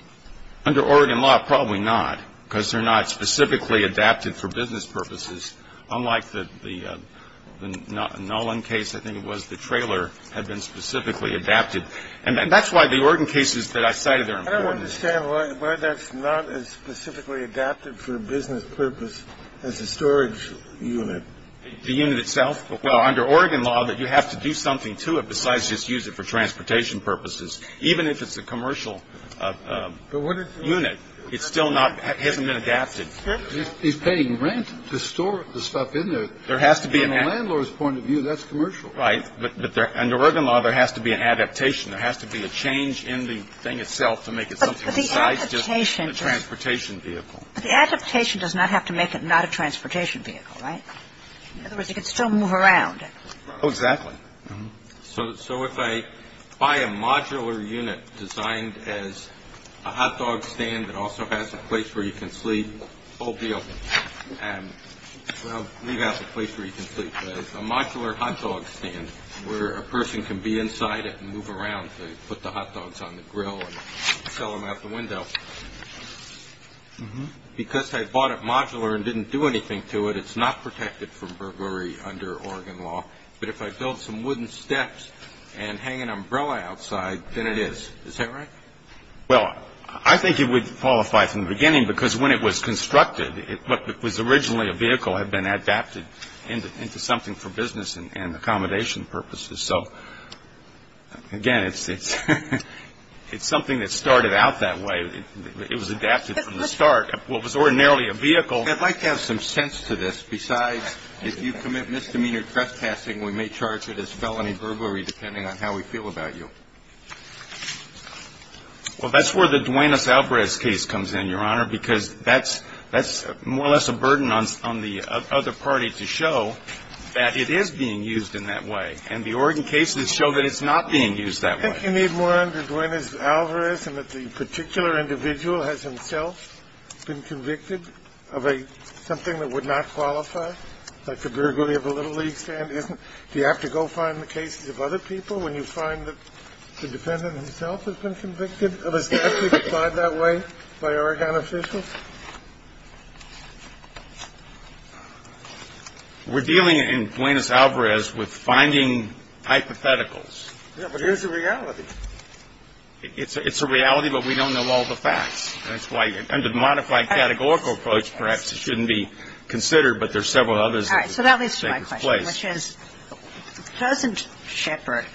Under Oregon law, probably not, because they're not specifically adapted for business purposes, unlike the Nolan case, I think it was, the trailer had been specifically adapted. And that's why the Oregon cases that I cited are important. I don't understand why that's not as specifically adapted for business purpose as a storage unit. The unit itself? Well, under Oregon law, you have to do something to it besides just use it for transportation purposes. Even if it's a commercial unit, it still hasn't been adapted. He's paying rent to store the stuff in there. From a landlord's point of view, that's commercial. Right. But under Oregon law, there has to be an adaptation. There has to be a change in the thing itself to make it something besides just a transportation vehicle. But the adaptation does not have to make it not a transportation vehicle, right? In other words, it could still move around. Oh, exactly. So if I buy a modular unit designed as a hot dog stand that also has a place where you can sleep, whole deal, well, leave out the place where you can sleep, but a modular hot dog stand where a person can be inside it and move around to put the hot dogs on the grill and sell them out the window. Because I bought it modular and didn't do anything to it, it's not protected from burglary under Oregon law. But if I build some wooden steps and hang an umbrella outside, then it is. Is that right? Well, I think it would qualify from the beginning because when it was constructed, what was originally a vehicle had been adapted into something for business and accommodation purposes. So, again, it's something that started out that way. It was adapted from the start. Well, it was ordinarily a vehicle. I'd like to have some sense to this. Besides, if you commit misdemeanor trespassing, we may charge it as felony burglary depending on how we feel about you. Well, that's where the Duenas-Alvarez case comes in, Your Honor, because that's more or less a burden on the other party to show that it is being used in that way. And the Oregon cases show that it's not being used that way. Do you think you need more under Duenas-Alvarez and that the particular individual has himself been convicted of something that would not qualify, like the burglary of a Little League stand? Do you have to go find the cases of other people when you find that the defendant himself has been convicted of a statute applied that way by Oregon officials? We're dealing in Duenas-Alvarez with finding hypotheticals. Yeah, but here's the reality. It's a reality, but we don't know all the facts. That's why, under the modified categorical approach, perhaps it shouldn't be considered, but there's several others that take its place. All right. So that leads to my question, which is, doesn't Shepard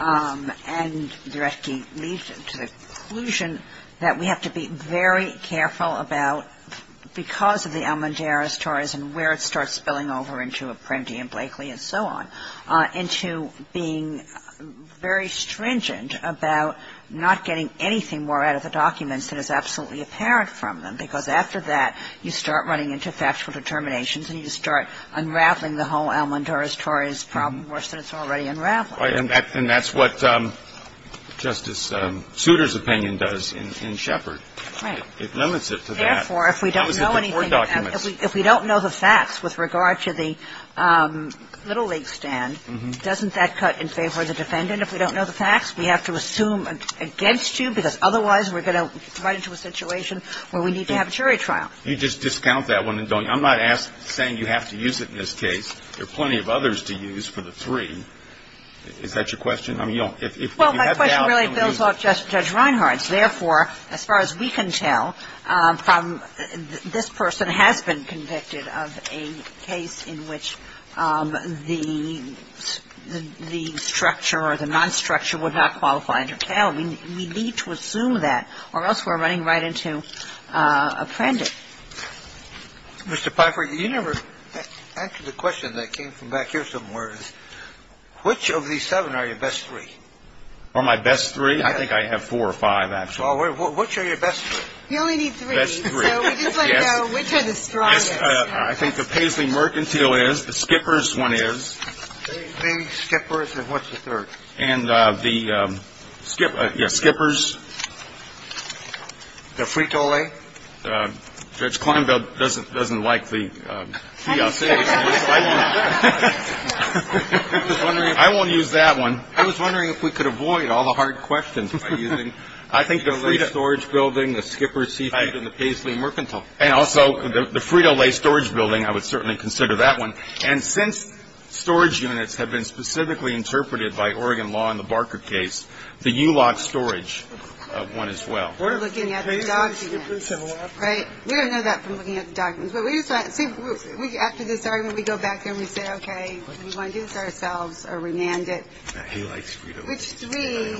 and Duretsky lead to the conclusion that we have to be very careful about, because of the Almendarez stories and where it starts spilling over into Apprendi and Blakely and so on, into being very stringent about not getting anything more out of the documents that is absolutely apparent from them? Because after that, you start running into factual determinations and you start unraveling the whole Almendarez-Torres problem worse than it's already unraveling. Right. And that's what Justice Souter's opinion does in Shepard. Right. It limits it to that. Therefore, if we don't know anything about it, if we don't know the facts with regard to the Little League stand, doesn't that cut in favor of the defendant? If we don't know the facts, we have to assume against you, because otherwise we're going to run into a situation where we need to have a jury trial. You just discount that one and don't. I'm not saying you have to use it in this case. There are plenty of others to use for the three. I mean, if you have doubts, don't use it. Well, my question really builds off Judge Reinhardt's. And therefore, as far as we can tell, this person has been convicted of a case in which the structure or the non-structure would not qualify under Calumny. We need to assume that, or else we're running right into a prendix. Mr. Pifer, you never answered the question that came from back here somewhere. Which of these seven are your best three? Are my best three? I think I have four or five, actually. Which are your best three? We only need three. Best three. So we just want to know which are the strongest. I think the Paisley-Mercantile is. The Skippers one is. The Skippers. And what's the third? And the Skippers. The Frito-Lay. Judge Kleinberg doesn't like the Fiasce. I won't use that one. I was wondering if we could avoid all the hard questions by using the Frito-Lay storage building, the Skippers, Seafood, and the Paisley-Mercantile. And also the Frito-Lay storage building, I would certainly consider that one. And since storage units have been specifically interpreted by Oregon law in the Barker case, the ULOC storage one as well. We're looking at the documents. Right. We don't know that from looking at the documents. After this argument, we go back and we say, okay, we want to do this ourselves or remand it. He likes Frito-Lay. Which three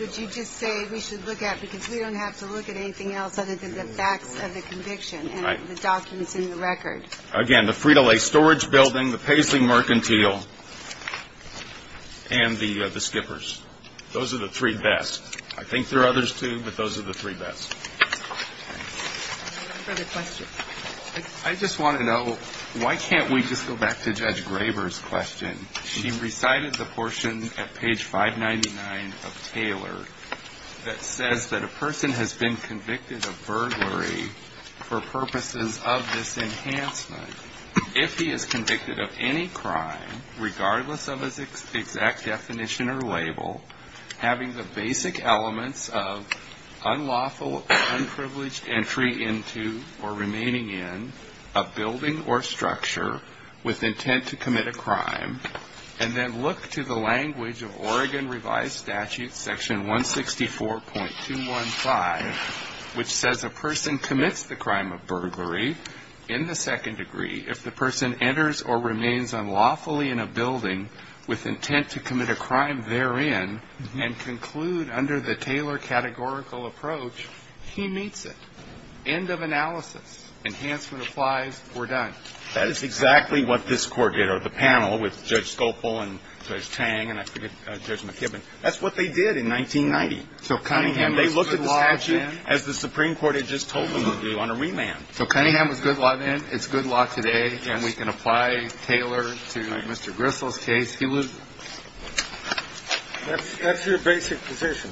would you just say we should look at because we don't have to look at anything else other than the facts of the conviction and the documents in the record? Again, the Frito-Lay storage building, the Paisley-Mercantile, and the Skippers. Those are the three best. I think there are others, too, but those are the three best. Any further questions? I just want to know, why can't we just go back to Judge Graber's question? She recited the portion at page 599 of Taylor that says that a person has been convicted of burglary for purposes of this enhancement. If he is convicted of any crime, regardless of his exact definition or label, having the basic elements of unlawful, unprivileged entry into or remaining in a building or structure with intent to commit a crime, and then look to the language of Oregon revised statute section 164.215, which says a person commits the crime of burglary in the second degree, if the person enters or remains unlawfully in a building with intent to commit a crime therein, and conclude under the Taylor categorical approach, he meets it. End of analysis. Enhancement applies. We're done. That is exactly what this Court did, or the panel with Judge Scopel and Judge Tang and I forget, Judge McKibbin. That's what they did in 1990. So Cunningham was good law then? They looked at the statute as the Supreme Court had just told them to do on a remand. So Cunningham was good law then. It's good law today. Yes. And we can apply Taylor to Mr. Gristle's case. That's your basic position.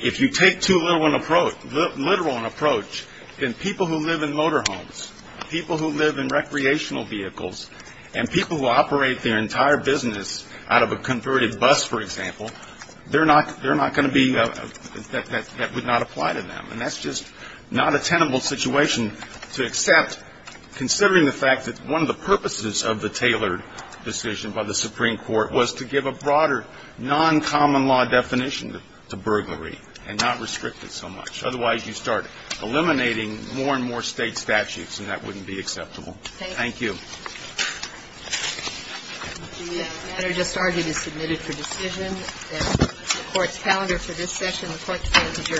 If you take too literal an approach, then people who live in motorhomes, people who live in recreational vehicles, and people who operate their entire business out of a converted bus, for example, they're not going to be, that would not apply to them. And that's just not a tenable situation to accept, considering the fact that one of the purposes of the Taylor decision by the Supreme Court was to give a broader noncommon law definition to burglary and not restrict it so much. Otherwise, you start eliminating more and more State statutes, and that wouldn't be acceptable. Thank you. The matter just argued is submitted for decision. The Court's calendar for this session, the Court's calendar is adjourned. Thank you.